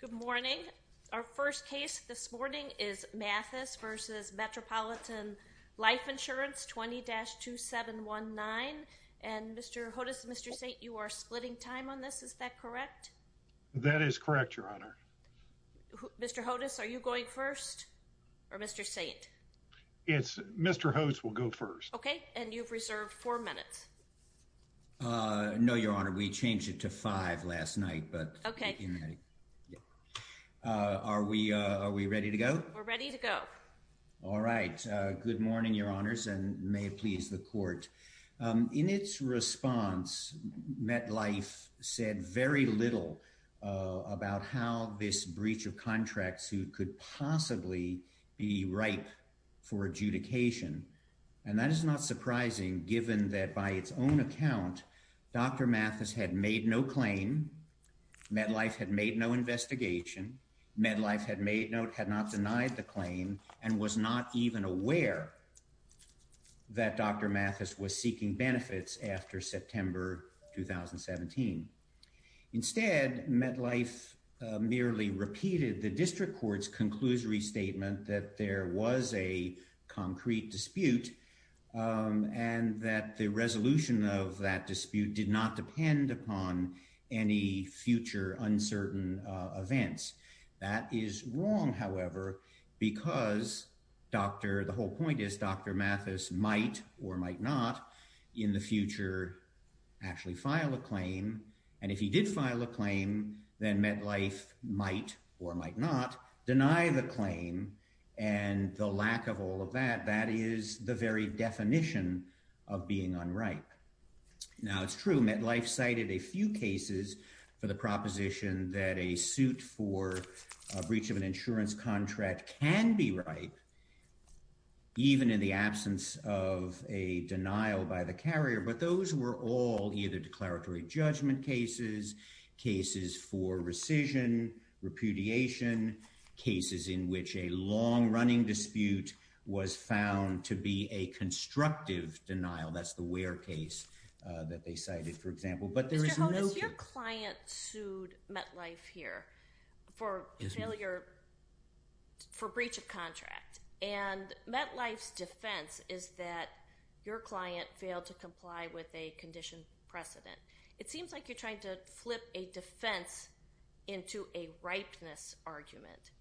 Good morning. Our first case this morning is Mathis v. Metropolitan Life Insurance 20-2719. And Mr. Hodes and Mr. Saint, you are splitting time on this, is that correct? That is correct, Your Honor. Mr. Hodes, are you going first? Or Mr. Saint? It's Mr. Hodes will go first. Okay, and you've reserved four minutes. No, Your Honor, we changed it to five last night, but okay, are we are we ready to go? We're ready to go. All right. Good morning, Your Honors, and may it please the court. In its response, MetLife said very little about how this breach of contracts who could possibly be ripe for adjudication. And that is not surprising, given that by its own account, Dr. Mathis had made no claim. MetLife had made no investigation. MetLife had made note, had not denied the claim and was not even aware that Dr. Mathis was seeking benefits after September 2017. Instead, MetLife merely repeated the district court's conclusory statement that there was a concrete dispute and that the resolution of that dispute did not depend upon any future uncertain events. That is wrong, however, because Dr. The whole point is Dr. Mathis might or might not in the future actually file a claim. And if he did file a claim, then MetLife might or might not deny the claim. And the lack of all of that, that is the very definition of being unripe. Now, it's true, MetLife cited a few cases for the proposition that a suit for a breach of an insurance contract can be ripe, even in the absence of a denial by the carrier. But those were all either declaratory judgment cases, cases for rescission, repudiation, cases in which a long-running dispute was found to be a constructive denial. That's the Ware case that they cited, for example. But there is no- Mr. Hodes, your client sued MetLife here for breach of contract. And MetLife's defense is that your client failed to comply with a condition precedent. It seems like you're trying to flip a defense into a ripeness argument.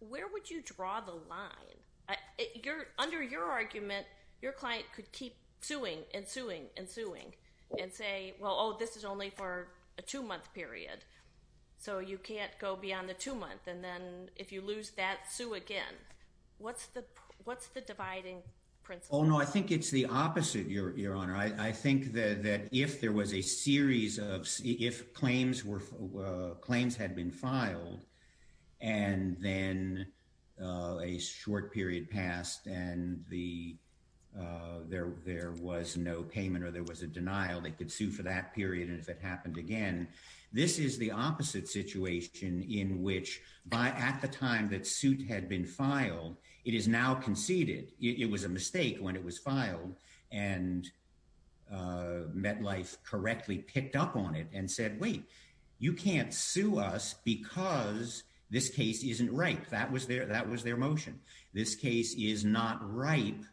Where would you draw the line? Under your argument, your client could keep suing and suing and suing and say, well, oh, this is only for a two-month period. So you can't go beyond the two-month. And then if you lose that, sue again. What's the dividing principle? Oh, no, I think it's the opposite, Your Honor. I think that if there was a series of- if claims had been filed and then a short period passed and there was no payment or there was a denial, they could sue for that period. And if it happened again, this is the opposite situation in which at the time that suit had been filed, it is now conceded. It was a mistake when it was filed and MetLife correctly picked up on it and said, wait, you can't sue us because this case isn't ripe. That was their motion. This case is not ripe.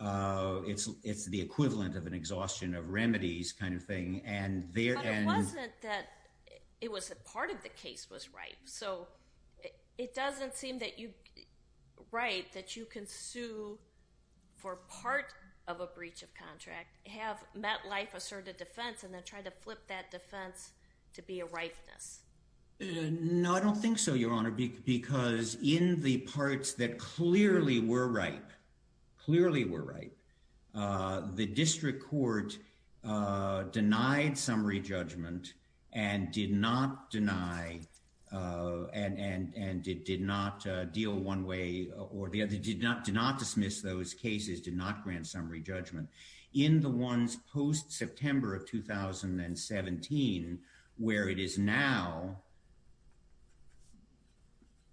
It's the equivalent of an exhaustion of remedies kind of thing. But it wasn't that- it was that part of the case was ripe. So it doesn't seem that you- right, that you can sue for part of a breach of contract, have MetLife assert a defense, and then try to flip that defense to be a ripeness. No, I don't think so, Your Honor. Because in the parts that clearly were ripe, clearly were ripe, the district court denied summary judgment and did not deny and did not deal one way or the other, did not dismiss those cases, did not grant summary judgment. In the ones post-September of 2017, where it is now,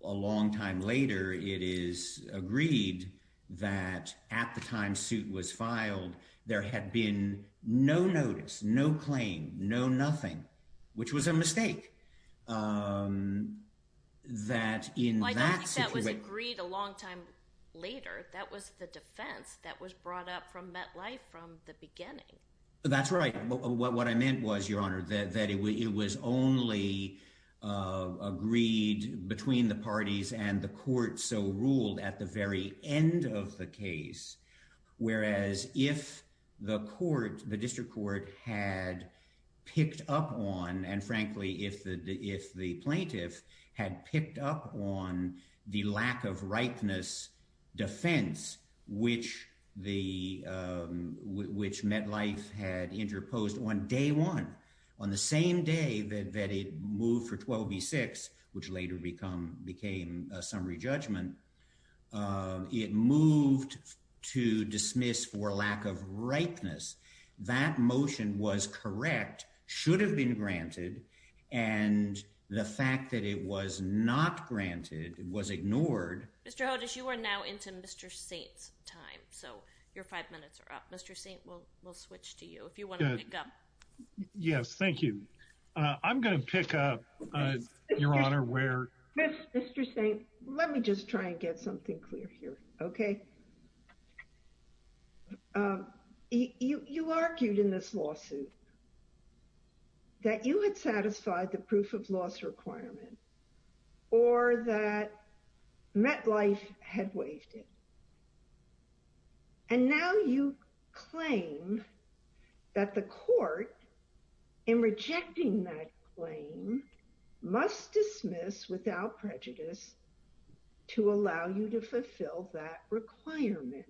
a long time later, it is agreed that at the time suit was filed, there had been no notice, no claim, no nothing, which was a mistake. Well, I don't think that was agreed a long time later. That was the defense that was brought up from MetLife from the beginning. That's right. What I meant was, Your Honor, that it was only agreed between the parties and the court so ruled at the very end of the case. Whereas if the court, the district court, had picked up on, and frankly, if the plaintiff had picked up on the lack of ripeness defense, which MetLife had interposed on day one, on the same day that it moved for 12 v. 6, which later became a summary judgment, it moved to dismiss for lack of ripeness. That motion was correct, should have been granted, and the fact that it was not granted was ignored. Mr. Hodes, you are now into Mr. Saint's time, so your five minutes are up. Mr. Saint, we'll switch to you if you want to pick up. Yes, thank you. I'm going to pick up, Your Honor. Mr. Saint, let me just try and get something clear here, okay? You argued in this lawsuit that you had satisfied the proof of loss requirement or that MetLife had waived it. And now you claim that the court in rejecting that claim must dismiss without prejudice to allow you to fulfill that requirement.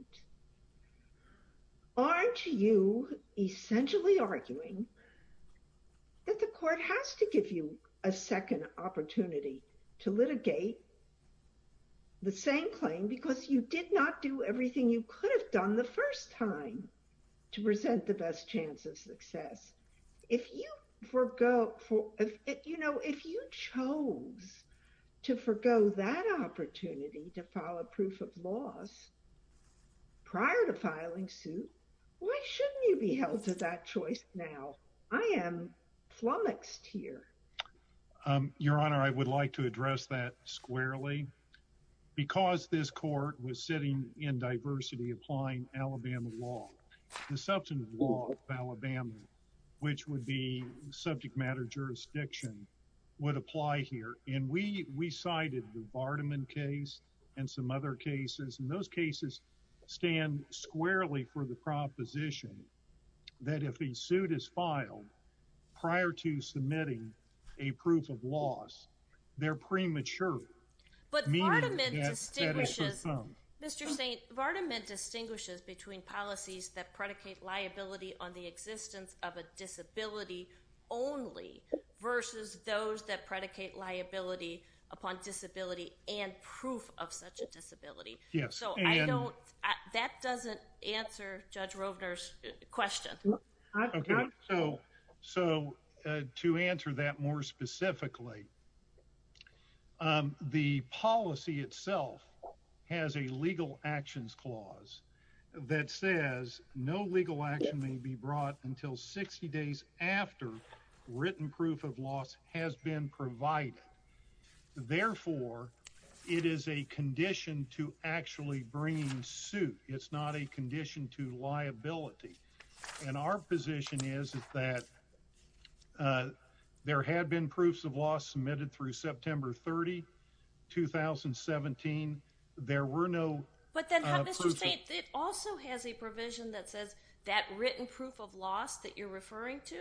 Aren't you essentially arguing that the court has to give you a second opportunity to litigate the same claim because you did not do everything you could have done the first time to present the best chance of success? If you chose to forego that opportunity to file a proof of loss prior to filing suit, why shouldn't you be held to that choice now? I am flummoxed here. Your Honor, I would like to address that squarely. Because this court was sitting in diversity applying Alabama law, the substantive law of Alabama, which would be subject matter jurisdiction, would apply here. And we cited the Vardaman case and some other cases, and those cases stand squarely for the proposition that if a suit is filed prior to submitting a proof of loss, they're premature. But Vardaman distinguishes between policies that predicate liability on the existence of a disability only versus those that predicate liability upon disability and proof of such a disability. So that doesn't answer Judge Rovner's question. So to answer that more specifically, the policy itself has a legal actions clause that says no legal action may be brought until 60 days after written proof of loss has been provided. Therefore, it is a condition to actually bring suit. It's not a condition to liability. And our position is that there had been proofs of loss submitted through September 30, 2017. It also has a provision that says that written proof of loss that you're referring to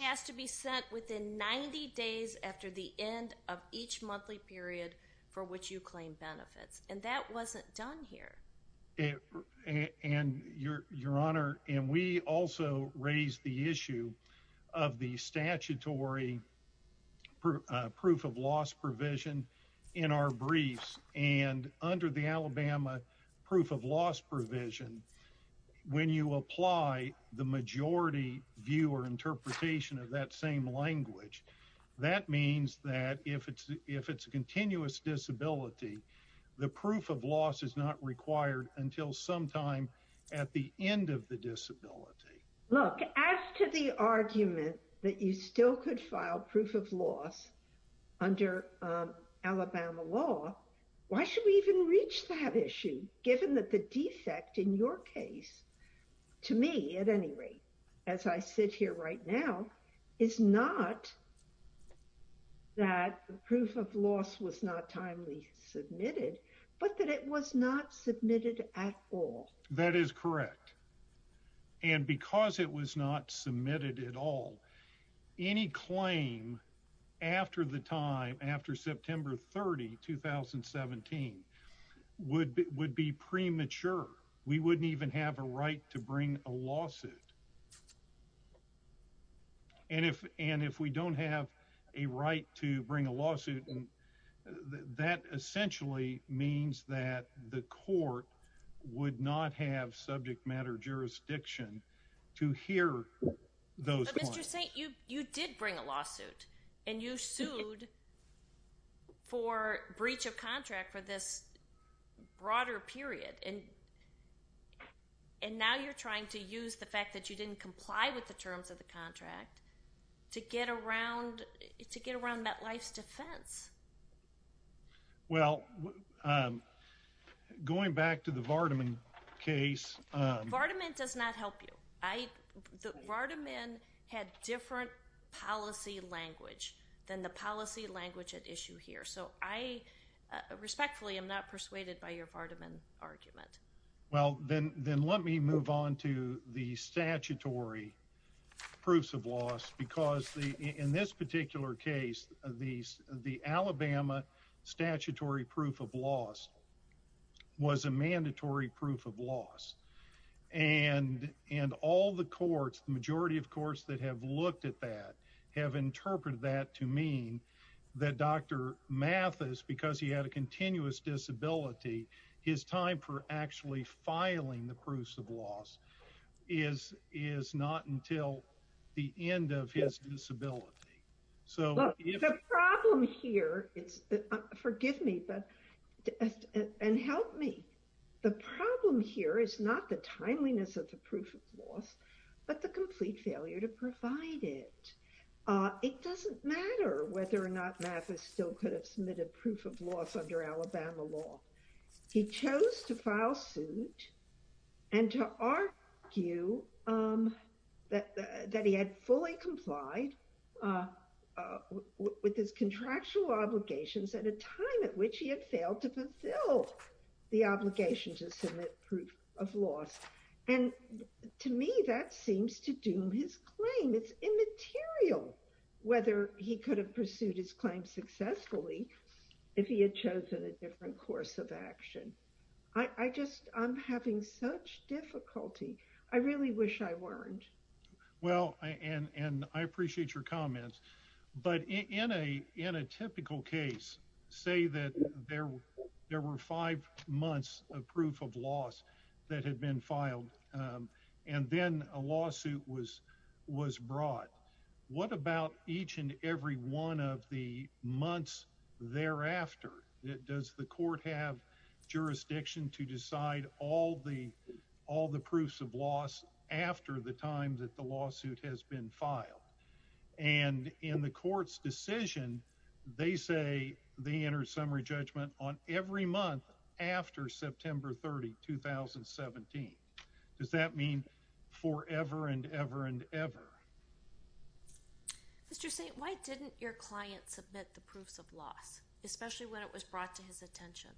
has to be sent within 90 days after the end of each monthly period for which you claim benefits. And that wasn't done here. Your Honor, and we also raised the issue of the statutory proof of loss provision in our briefs. And under the Alabama proof of loss provision, when you apply the majority view or interpretation of that same language, that means that if it's a continuous disability, the proof of loss is not required until sometime at the end of the disability. Look, as to the argument that you still could file proof of loss under Alabama law, why should we even reach that issue, given that the defect in your case, to me at any rate, as I sit here right now, is not that proof of loss was not timely submitted, but that it was not submitted at all. That is correct. And because it was not submitted at all, any claim after the time after September 30, 2017 would be premature. We wouldn't even have a right to bring a lawsuit. And if we don't have a right to bring a lawsuit, that essentially means that the court would not have subject matter jurisdiction to hear those claims. You did bring a lawsuit, and you sued for breach of contract for this broader period. And now you're trying to use the fact that you didn't comply with the terms of the contract to get around that life's defense. Well, going back to the Vardaman case. Vardaman does not help you. Vardaman had different policy language than the policy language at issue here. So I respectfully am not persuaded by your Vardaman argument. Well, then let me move on to the statutory proofs of loss, because in this particular case, the Alabama statutory proof of loss was a mandatory proof of loss. And all the courts, the majority of courts that have looked at that, have interpreted that to mean that Dr. Mathis, because he had a continuous disability, his time for actually filing the proofs of loss is not until the end of his disability. The problem here, forgive me, and help me, the problem here is not the timeliness of the proof of loss, but the complete failure to provide it. It doesn't matter whether or not Mathis still could have submitted proof of loss under Alabama law. He chose to file suit and to argue that he had fully complied with his contractual obligations at a time at which he had failed to fulfill the obligation to submit proof of loss. And to me, that seems to doom his claim. It's immaterial whether he could have pursued his claim successfully if he had chosen a different course of action. I just, I'm having such difficulty. I really wish I weren't. Well, and I appreciate your comments, but in a typical case, say that there were five months of proof of loss that had been filed, and then a lawsuit was brought. What about each and every one of the months thereafter? Does the court have jurisdiction to decide all the proofs of loss after the time that the lawsuit has been filed? And in the court's decision, they say they enter summary judgment on every month after September 30, 2017. Does that mean forever and ever and ever? Mr. St, why didn't your client submit the proofs of loss, especially when it was brought to his attention?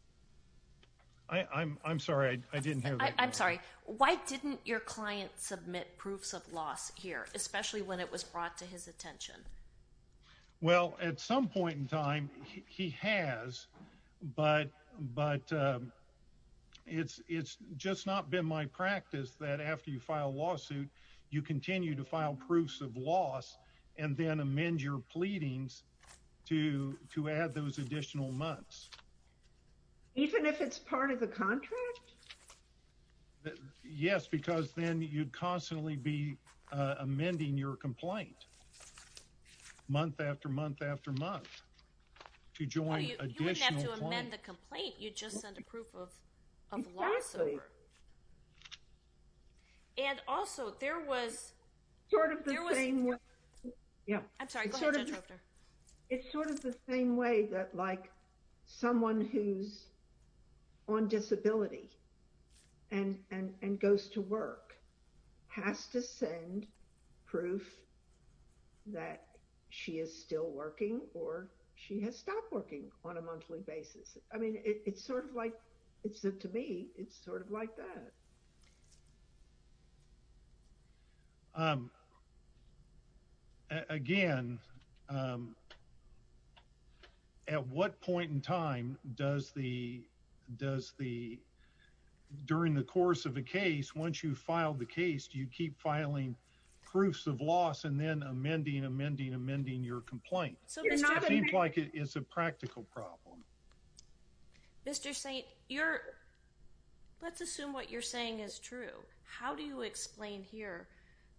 I'm sorry, I didn't hear that question. I'm sorry. Why didn't your client submit proofs of loss here, especially when it was brought to his attention? Well, at some point in time, he has, but it's just not been my practice that after you file a lawsuit, you continue to file proofs of loss and then amend your pleadings to add those additional months. Even if it's part of the contract? Yes, because then you'd constantly be amending your complaint month after month after month to join additional claims. You wouldn't have to amend the complaint. You'd just send a proof of loss over. Exactly. And also, there was... It's sort of the same way that, like, someone who's on disability and goes to work has to send proof that she is still working or she has stopped working on a monthly basis. I mean, it's sort of like, to me, it's sort of like that. Again, at what point in time does the... During the course of a case, once you file the case, do you keep filing proofs of loss and then amending, amending, amending your complaint? It seems like it's a practical problem. Mr. Saint, you're... Let's assume what you're saying is true. How do you explain here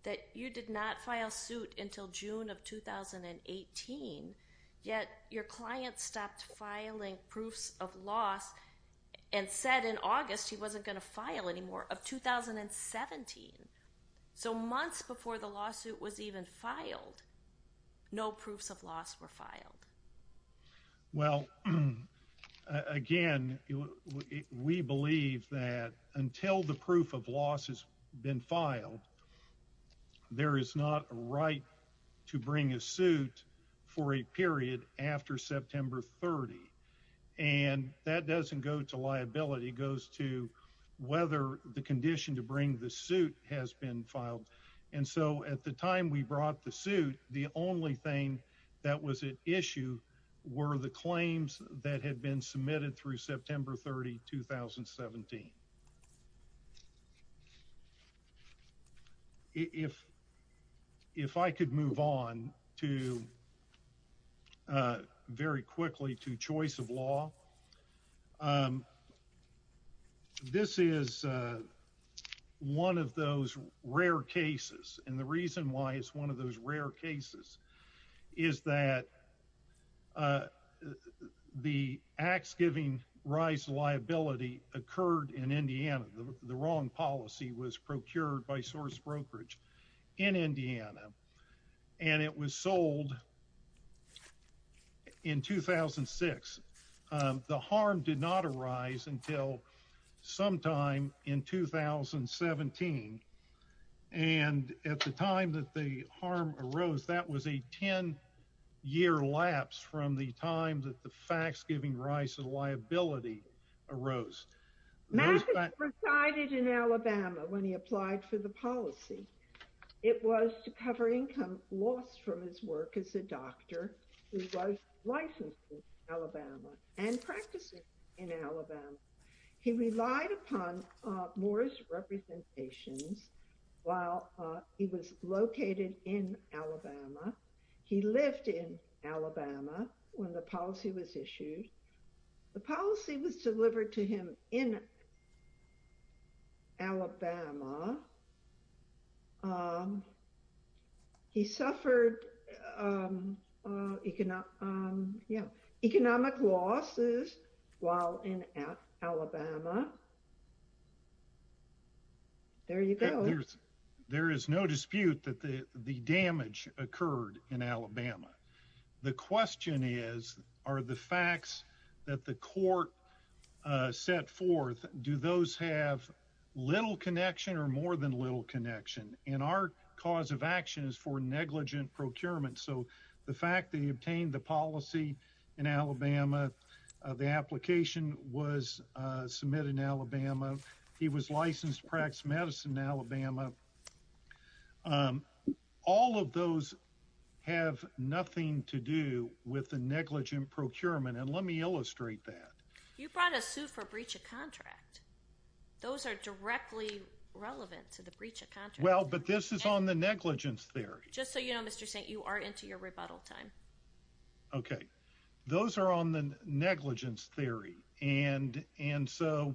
that you did not file suit until June of 2018, yet your client stopped filing proofs of loss and said in August he wasn't going to file anymore of 2017? So months before the lawsuit was even filed, no proofs of loss were filed. Well, again, we believe that until the proof of loss has been filed, there is not a right to bring a suit for a period after September 30. And that doesn't go to liability. It goes to whether the condition to bring the suit has been filed. And so at the time we brought the suit, the only thing that was at issue were the claims that had been submitted through September 30, 2017. If I could move on to, very quickly, to choice of law, this is one of those rare cases. And the reason why it's one of those rare cases is that the acts giving rise to liability occurred in Indiana. The wrong policy was procured by source brokerage in Indiana, and it was sold in 2006. The harm did not arise until sometime in 2017. And at the time that the harm arose, that was a 10-year lapse from the time that the facts giving rise to the liability arose. Matthew presided in Alabama when he applied for the policy. It was to cover income lost from his work as a doctor who was licensed in Alabama and practicing in Alabama. He relied upon Moore's representations while he was located in Alabama. He lived in Alabama when the policy was issued. The policy was delivered to him in Alabama. He suffered economic losses while in Alabama. There you go. There is no dispute that the damage occurred in Alabama. The question is, are the facts that the court set forth, do those have little connection or more than little connection? And our cause of action is for negligent procurement. So the fact that he obtained the policy in Alabama, the application was submitted in Alabama, he was licensed to practice medicine in Alabama. All of those have nothing to do with the negligent procurement. And let me illustrate that. You brought a suit for breach of contract. Those are directly relevant to the breach of contract. Well, but this is on the negligence theory. Just so you know, Mr. Saint, you are into your rebuttal time. Okay. Those are on the negligence theory. And so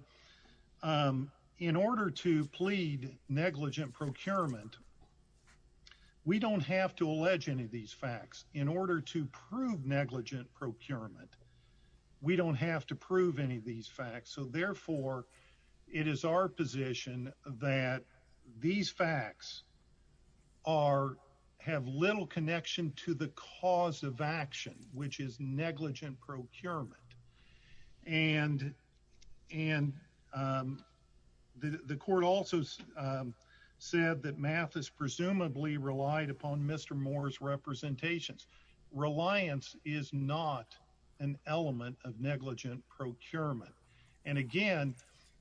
in order to plead negligent procurement, we don't have to allege any of these facts. In order to prove negligent procurement, we don't have to prove any of these facts. So therefore, it is our position that these facts have little connection to the cause of action, which is negligent procurement. And the court also said that Mathis presumably relied upon Mr. Moore's representations. Reliance is not an element of negligent procurement. And again,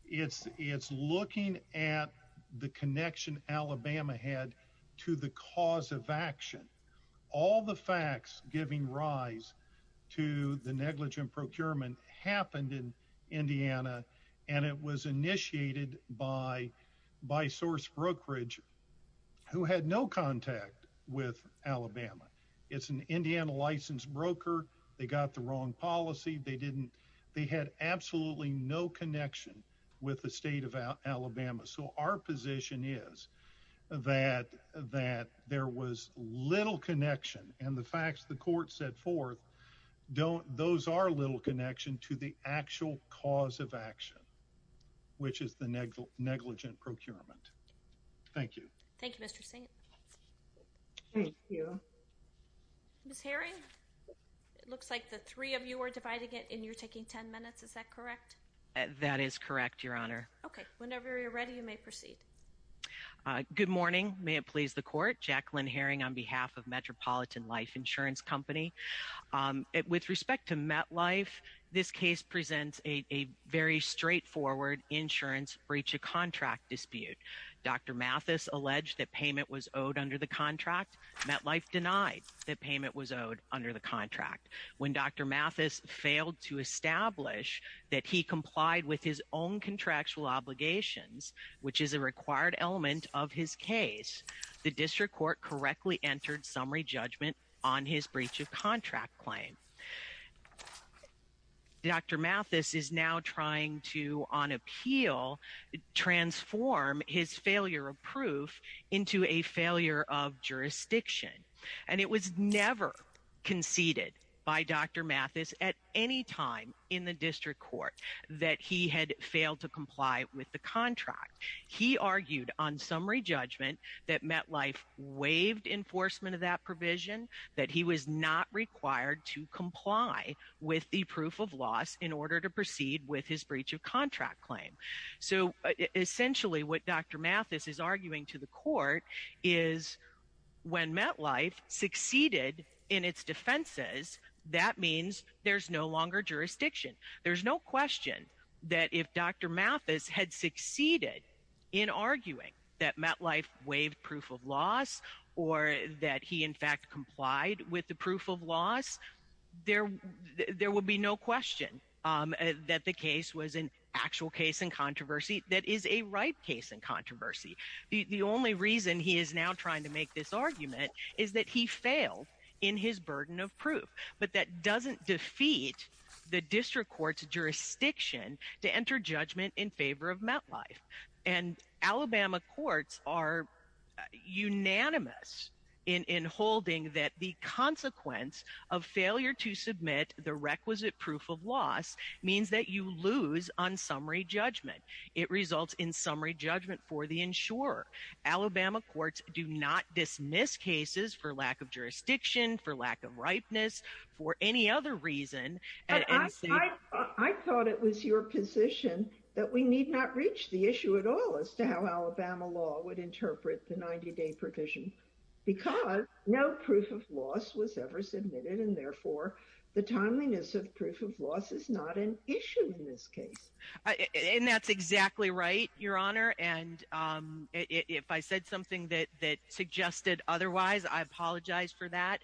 it's looking at the connection Alabama had to the cause of action. All the facts giving rise to the negligent procurement happened in Indiana, and it was initiated by source brokerage who had no contact with Alabama. It's an Indiana licensed broker. They got the wrong policy. They didn't. They had absolutely no connection with the state of Alabama. So our position is that there was little connection. And the facts the court set forth, those are little connection to the actual cause of action, which is the negligent procurement. Thank you. Thank you, Mr. Saint. Thank you. Ms. Herring, it looks like the three of you are dividing it, and you're taking ten minutes. Is that correct? That is correct, Your Honor. Okay. Whenever you're ready, you may proceed. Good morning. May it please the court. Jacqueline Herring on behalf of Metropolitan Life Insurance Company. With respect to MetLife, this case presents a very straightforward insurance breach of contract dispute. Dr. Mathis alleged that payment was owed under the contract. MetLife denied that payment was owed under the contract. When Dr. Mathis failed to establish that he complied with his own contractual obligations, which is a required element of his case, the district court correctly entered summary judgment on his breach of contract claim. Dr. Mathis is now trying to, on appeal, transform his failure of proof into a failure of jurisdiction. And it was never conceded by Dr. Mathis at any time in the district court that he had failed to comply with the contract. He argued on summary judgment that MetLife waived enforcement of that provision, that he was not required to comply with the proof of loss in order to proceed with his breach of contract claim. So essentially what Dr. Mathis is arguing to the court is when MetLife succeeded in its defenses, that means there's no longer jurisdiction. There's no question that if Dr. Mathis had succeeded in arguing that MetLife waived proof of loss or that he in fact complied with the proof of loss, there would be no question that the case was an actual case in controversy that is a ripe case in controversy. The only reason he is now trying to make this argument is that he failed in his burden of proof. But that doesn't defeat the district court's jurisdiction to enter judgment in favor of MetLife. And Alabama courts are unanimous in holding that the consequence of failure to submit the requisite proof of loss means that you lose on summary judgment. It results in summary judgment for the insurer. Alabama courts do not dismiss cases for lack of jurisdiction, for lack of ripeness, for any other reason. I thought it was your position that we need not reach the issue at all as to how Alabama law would interpret the 90-day provision. Because no proof of loss was ever submitted and therefore the timeliness of proof of loss is not an issue in this case. And that's exactly right, Your Honor. And if I said something that suggested otherwise, I apologize for that.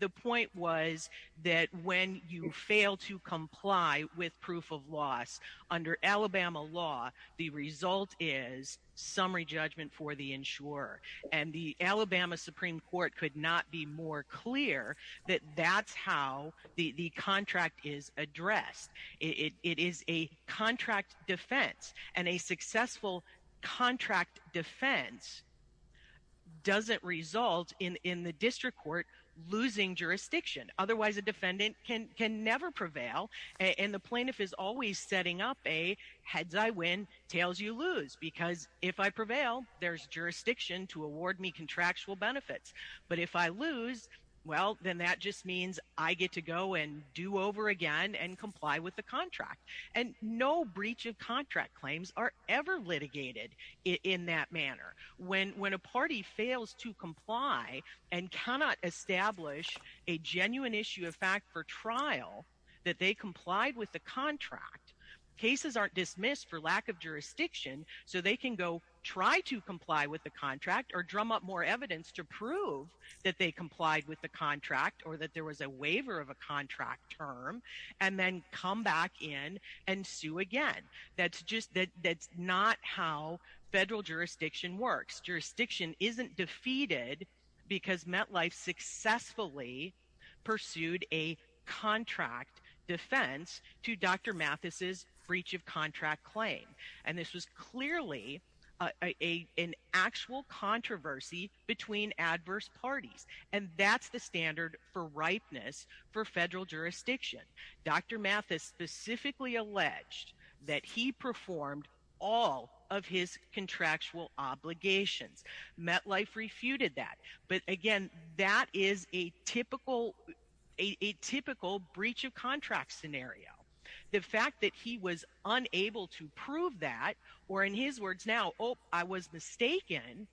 The point was that when you fail to comply with proof of loss under Alabama law, the result is summary judgment for the insurer. And the Alabama Supreme Court could not be more clear that that's how the contract is addressed. It is a contract defense. And a successful contract defense doesn't result in the district court losing jurisdiction. Otherwise, a defendant can never prevail, and the plaintiff is always setting up a heads-I-win, tails-you-lose. Because if I prevail, there's jurisdiction to award me contractual benefits. But if I lose, well, then that just means I get to go and do over again and comply with the contract. And no breach of contract claims are ever litigated in that manner. When a party fails to comply and cannot establish a genuine issue of fact for trial that they complied with the contract, cases aren't dismissed for lack of jurisdiction, so they can go try to comply with the contract or drum up more evidence to prove that they complied with the contract or that there was a waiver of a contract term, and then come back in and sue again. That's not how federal jurisdiction works. Federal jurisdiction isn't defeated because MetLife successfully pursued a contract defense to Dr. Mathis' breach of contract claim. And this was clearly an actual controversy between adverse parties. And that's the standard for ripeness for federal jurisdiction. Dr. Mathis specifically alleged that he performed all of his contractual obligations. MetLife refuted that. But, again, that is a typical breach of contract scenario. The fact that he was unable to prove that, or in his words now, I was mistaken,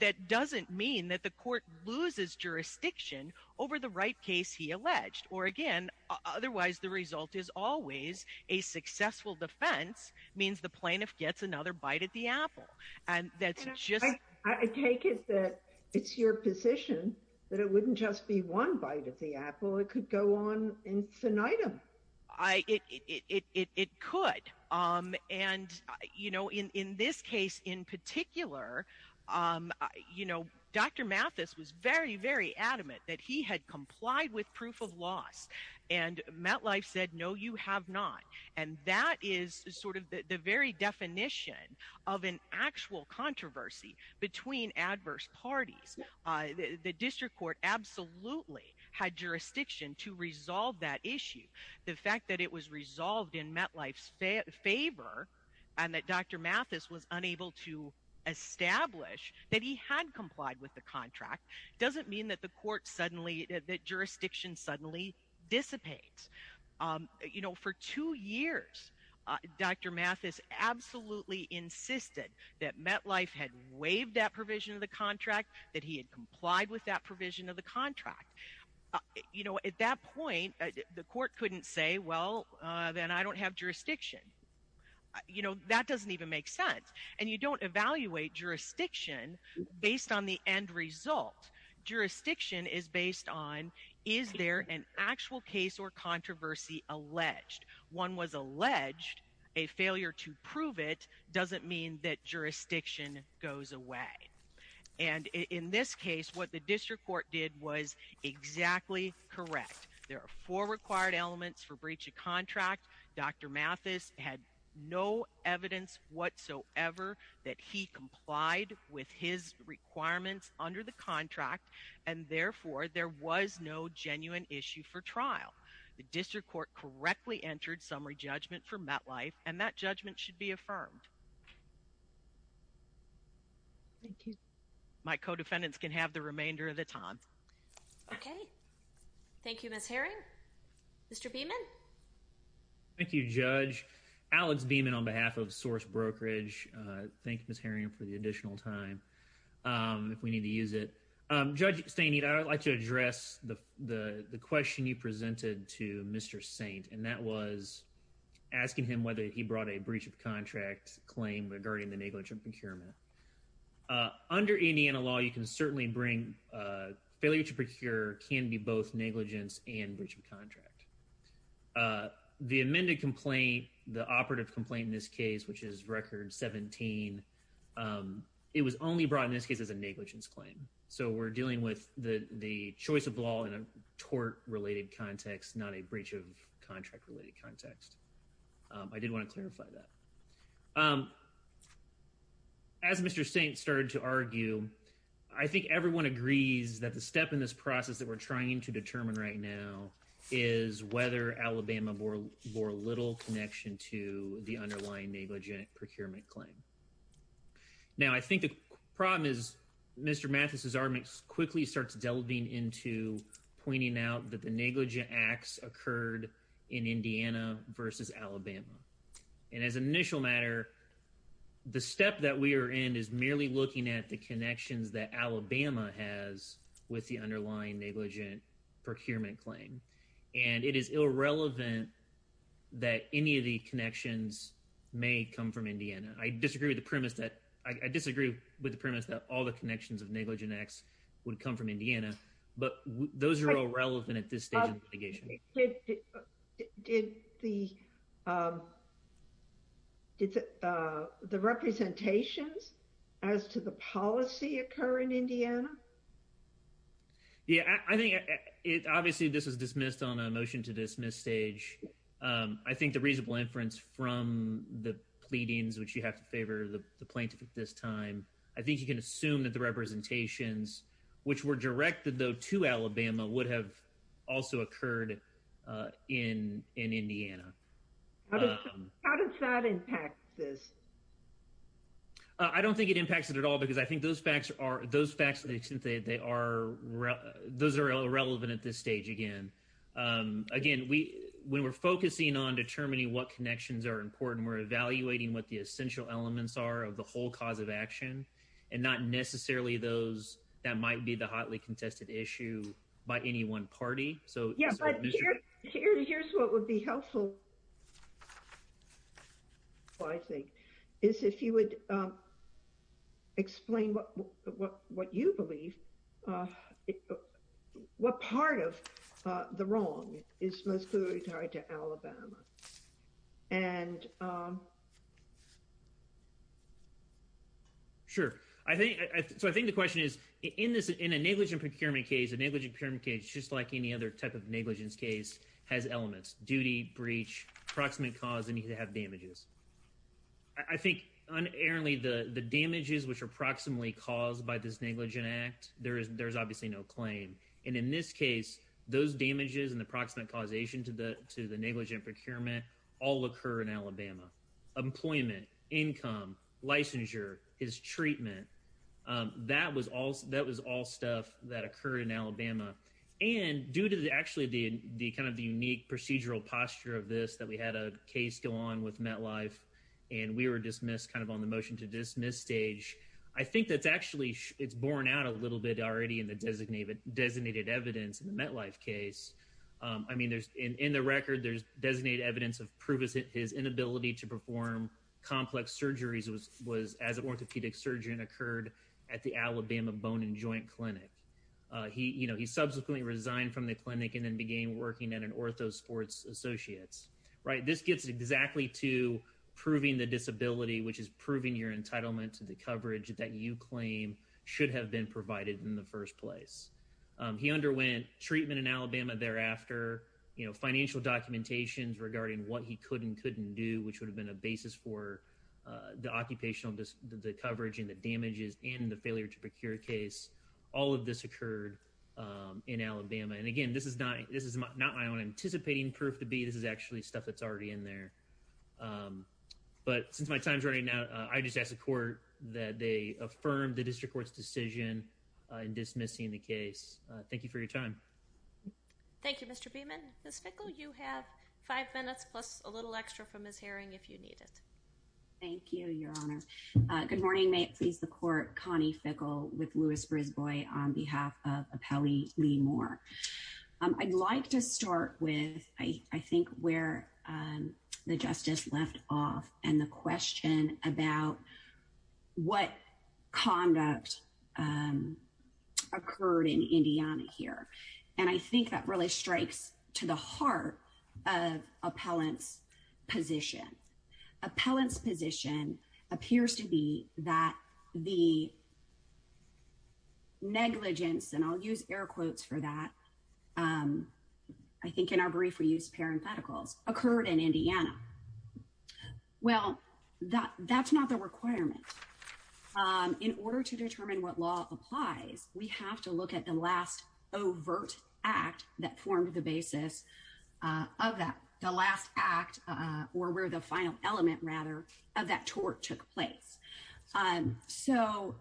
that doesn't mean that the court loses jurisdiction over the right case he alleged. Or, again, otherwise the result is always a successful defense means the plaintiff gets another bite at the apple. I take it that it's your position that it wouldn't just be one bite at the apple. It could go on infinitum. It could. And, you know, in this case in particular, you know, Dr. Mathis was very, very adamant that he had complied with proof of loss. And MetLife said, no, you have not. And that is sort of the very definition of an actual controversy between adverse parties. The district court absolutely had jurisdiction to resolve that issue. The fact that it was resolved in MetLife's favor and that Dr. Mathis was unable to establish that he had complied with the contract doesn't mean that the court suddenly, that jurisdiction suddenly dissipates. You know, for two years, Dr. Mathis absolutely insisted that MetLife had waived that provision of the contract, that he had complied with that provision of the contract. You know, at that point, the court couldn't say, well, then I don't have jurisdiction. You know, that doesn't even make sense. And you don't evaluate jurisdiction based on the end result. Jurisdiction is based on is there an actual case or controversy alleged. One was alleged. A failure to prove it doesn't mean that jurisdiction goes away. And in this case, what the district court did was exactly correct. There are four required elements for breach of contract. Dr. Mathis had no evidence whatsoever that he complied with his requirements under the contract. And therefore, there was no genuine issue for trial. The district court correctly entered summary judgment for MetLife, and that judgment should be affirmed. Thank you. My co-defendants can have the remainder of the time. Okay. Thank you, Ms. Herring. Mr. Beaman. Thank you, Judge. Alex Beaman on behalf of Source Brokerage. Thank you, Ms. Herring, for the additional time, if we need to use it. Judge Staney, I would like to address the question you presented to Mr. Saint, and that was asking him whether he brought a breach of contract claim regarding the negligent procurement. Under Indiana law, you can certainly bring failure to procure can be both negligence and breach of contract. The amended complaint, the operative complaint in this case, which is Record 17, it was only brought in this case as a negligence claim. So we're dealing with the choice of law in a tort-related context, not a breach of contract-related context. I did want to clarify that. As Mr. Saint started to argue, I think everyone agrees that the step in this process that we're trying to determine right now is whether Alabama bore little connection to the underlying negligent procurement claim. Now, I think the problem is Mr. Mathis's argument quickly starts delving into pointing out that the negligent acts occurred in Indiana versus Alabama. And as an initial matter, the step that we are in is merely looking at the connections that Alabama has with the underlying negligent procurement claim. And it is irrelevant that any of the connections may come from Indiana. I disagree with the premise that all the connections of negligent acts would come from Indiana, but those are all relevant at this stage in litigation. Did the representations as to the policy occur in Indiana? Yeah, I think obviously this was dismissed on a motion to dismiss stage. I think the reasonable inference from the pleadings, which you have to favor the plaintiff at this time, I think you can assume that the representations, which were directed though to Alabama, would have also occurred in Indiana. How does that impact this? I don't think it impacts it at all because I think those facts are irrelevant at this stage again. Again, when we're focusing on determining what connections are important, we're evaluating what the essential elements are of the whole cause of action and not necessarily those that might be the hotly contested issue by any one party. Yeah, but here's what would be helpful, I think, is if you would explain what you believe, what part of the wrong is most clearly tied to Alabama. Sure. So I think the question is, in a negligent procurement case, a negligent procurement case, just like any other type of negligence case, has elements. Duty, breach, approximate cause, and you have damages. I think, unerringly, the damages which are approximately caused by this negligent act, there's obviously no claim. And in this case, those damages and the approximate causation to the negligent procurement all occur in Alabama. Employment, income, licensure, his treatment, that was all stuff that occurred in Alabama. And due to actually the kind of the unique procedural posture of this, that we had a case go on with MetLife and we were dismissed kind of on the motion to dismiss stage, I think that's actually, it's borne out a little bit already in the designated evidence in the MetLife case. I mean, in the record, there's designated evidence of his inability to perform complex surgeries as an orthopedic surgeon occurred at the Alabama Bone and Joint Clinic. He subsequently resigned from the clinic and then began working at an Ortho Sports Associates. This gets exactly to proving the disability, which is proving your entitlement to the coverage that you claim should have been provided in the first place. He underwent treatment in Alabama thereafter, you know, financial documentations regarding what he could and couldn't do, which would have been a basis for the occupational, the coverage and the damages and the failure to procure case. All of this occurred in Alabama. And again, this is not, this is not my own anticipating proof to be, this is actually stuff that's already in there. But since my time's running out, I just ask the court that they affirm the district court's decision in dismissing the case. Thank you for your time. Thank you, Mr. Beaman. Ms. Fickle, you have five minutes plus a little extra from Ms. Haring if you need it. Thank you, Your Honor. Good morning. May it please the court, Connie Fickle with Louis-Brisbois on behalf of Appellee Lee Moore. I'd like to start with, I think, where the justice left off and the question about what conduct occurred in Indiana here. And I think that really strikes to the heart of appellant's position. Appellant's position appears to be that the negligence, and I'll use air quotes for that, I think in our brief we used parentheticals, occurred in Indiana. Well, that's not the requirement. In order to determine what law applies, we have to look at the last overt act that formed the basis of that, the last act, or where the final element, rather, of that tort took place. So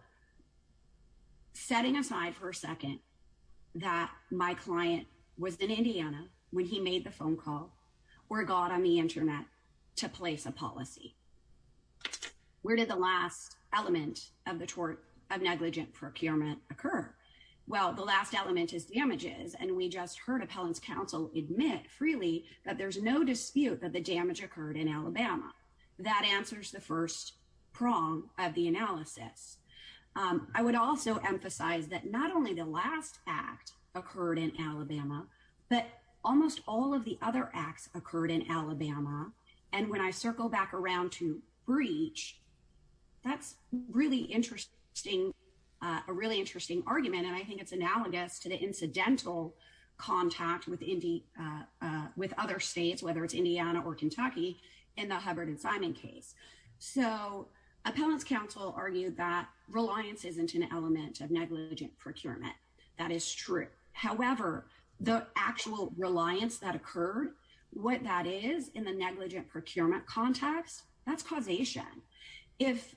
setting aside for a second that my client was in Indiana when he made the phone call or got on the Internet to place a policy, where did the last element of the tort of negligent procurement occur? Well, the last element is damages, and we just heard appellant's counsel admit freely that there's no dispute that the damage occurred in Alabama. That answers the first prong of the analysis. I would also emphasize that not only the last act occurred in Alabama, but almost all of the other acts occurred in Alabama. And when I circle back around to breach, that's a really interesting argument, and I think it's analogous to the incidental contact with other states, whether it's Indiana or Kentucky, in the Hubbard and Simon case. So appellant's counsel argued that reliance isn't an element of negligent procurement. That is true. However, the actual reliance that occurred, what that is in the negligent procurement context, that's causation. If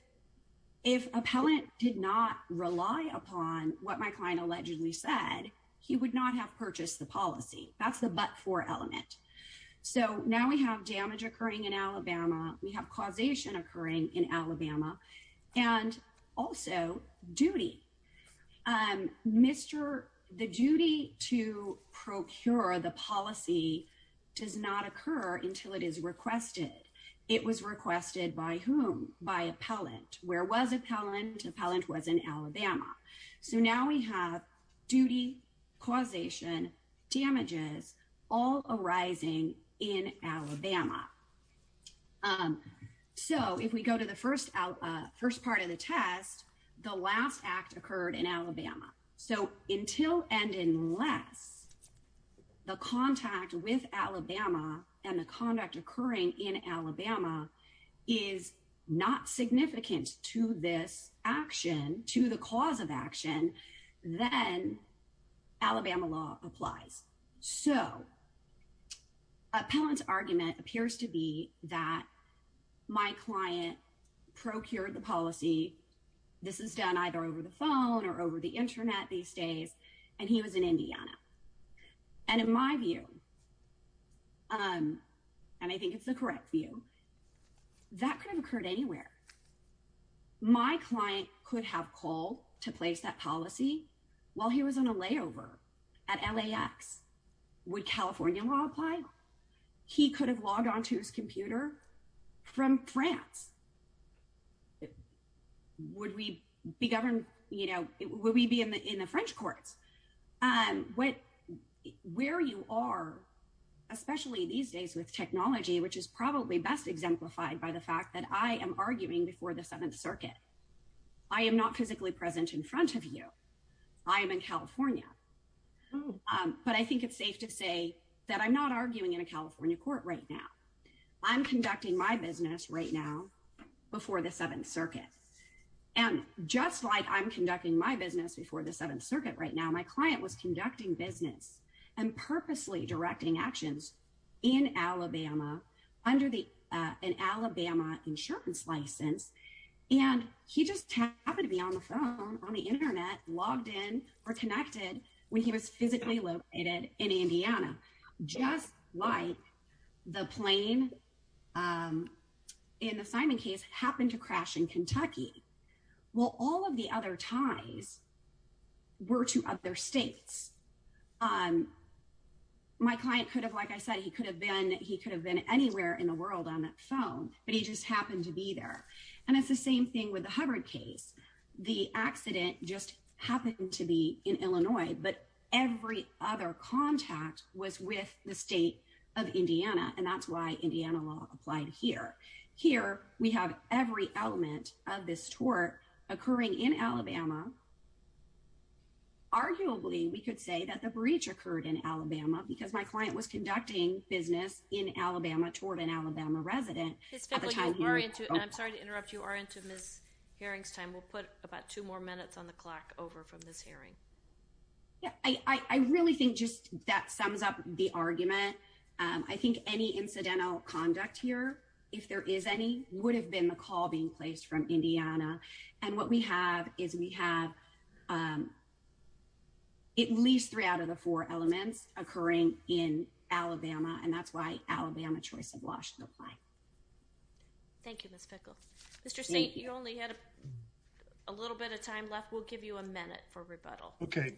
appellant did not rely upon what my client allegedly said, he would not have purchased the policy. That's the but-for element. So now we have damage occurring in Alabama. We have causation occurring in Alabama, and also duty. The duty to procure the policy does not occur until it is requested. It was requested by whom? By appellant. Where was appellant? Appellant was in Alabama. So now we have duty, causation, damages, all arising in Alabama. So if we go to the first part of the test, the last act occurred in Alabama. So until and unless the contact with Alabama and the conduct occurring in Alabama is not significant to this action, to the cause of action, then Alabama law applies. So appellant's argument appears to be that my client procured the policy. This is done either over the phone or over the Internet these days, and he was in Indiana. And in my view, and I think it's the correct view, that could have occurred anywhere. My client could have called to place that policy while he was on a layover at LAX. Would California law apply? He could have logged on to his computer from France. Would we be governed, you know, would we be in the French courts? Where you are, especially these days with technology, which is probably best exemplified by the fact that I am arguing before the Seventh Circuit. I am not physically present in front of you. I am in California. But I think it's safe to say that I'm not arguing in a California court right now. I'm conducting my business right now before the Seventh Circuit. And just like I'm conducting my business before the Seventh Circuit right now, my client was conducting business and purposely directing actions in Alabama under an Alabama insurance license. And he just happened to be on the phone, on the Internet, logged in, or connected when he was physically located in Indiana. Just like the plane in the Simon case happened to crash in Kentucky. Well, all of the other ties were to other states. My client could have, like I said, he could have been anywhere in the world on that phone, but he just happened to be there. And it's the same thing with the Hubbard case. The accident just happened to be in Illinois, but every other contact was with the state of Indiana, and that's why Indiana law applied here. Here we have every element of this tort occurring in Alabama. Arguably, we could say that the breach occurred in Alabama because my client was conducting business in Alabama toward an Alabama resident. I'm sorry to interrupt. You are into Ms. Haring's time. We'll put about two more minutes on the clock over from this hearing. I really think just that sums up the argument. I think any incidental conduct here, if there is any, would have been the call being placed from Indiana. And what we have is we have. At least three out of the four elements occurring in Alabama, and that's why Alabama choice of Washington. Thank you, Mr. Saint. You only had a little bit of time left. We'll give you a minute for rebuttal. OK,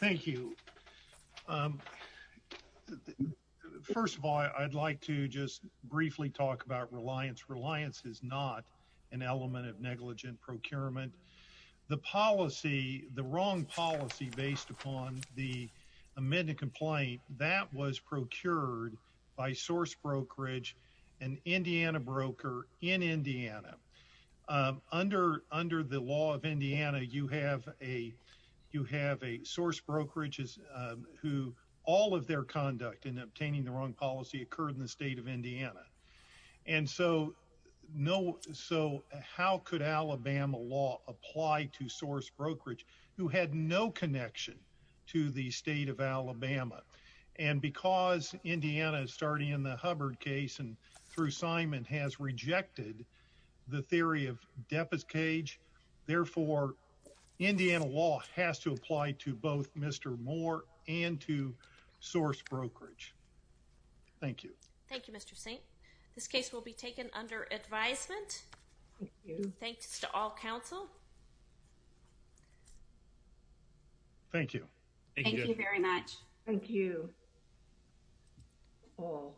thank you. First of all, I'd like to just briefly talk about reliance. Reliance is not an element of negligent procurement. The policy, the wrong policy based upon the amended complaint that was procured by source brokerage and Indiana broker in Indiana under under the law of Indiana. You have a you have a source brokerages who all of their conduct in obtaining the wrong policy occurred in the state of Indiana. And so no. So how could Alabama law apply to source brokerage who had no connection to the state of Alabama? And because Indiana is starting in the Hubbard case and through, Simon has rejected the theory of deficit cage. Therefore, Indiana law has to apply to both Mr. Moore and to source brokerage. Thank you. Thank you, Mr. Saint. This case will be taken under advisement. Thanks to all counsel. Thank you. Thank you very much. Thank you. All. Thank you. Thank you. Thank you. Thank you.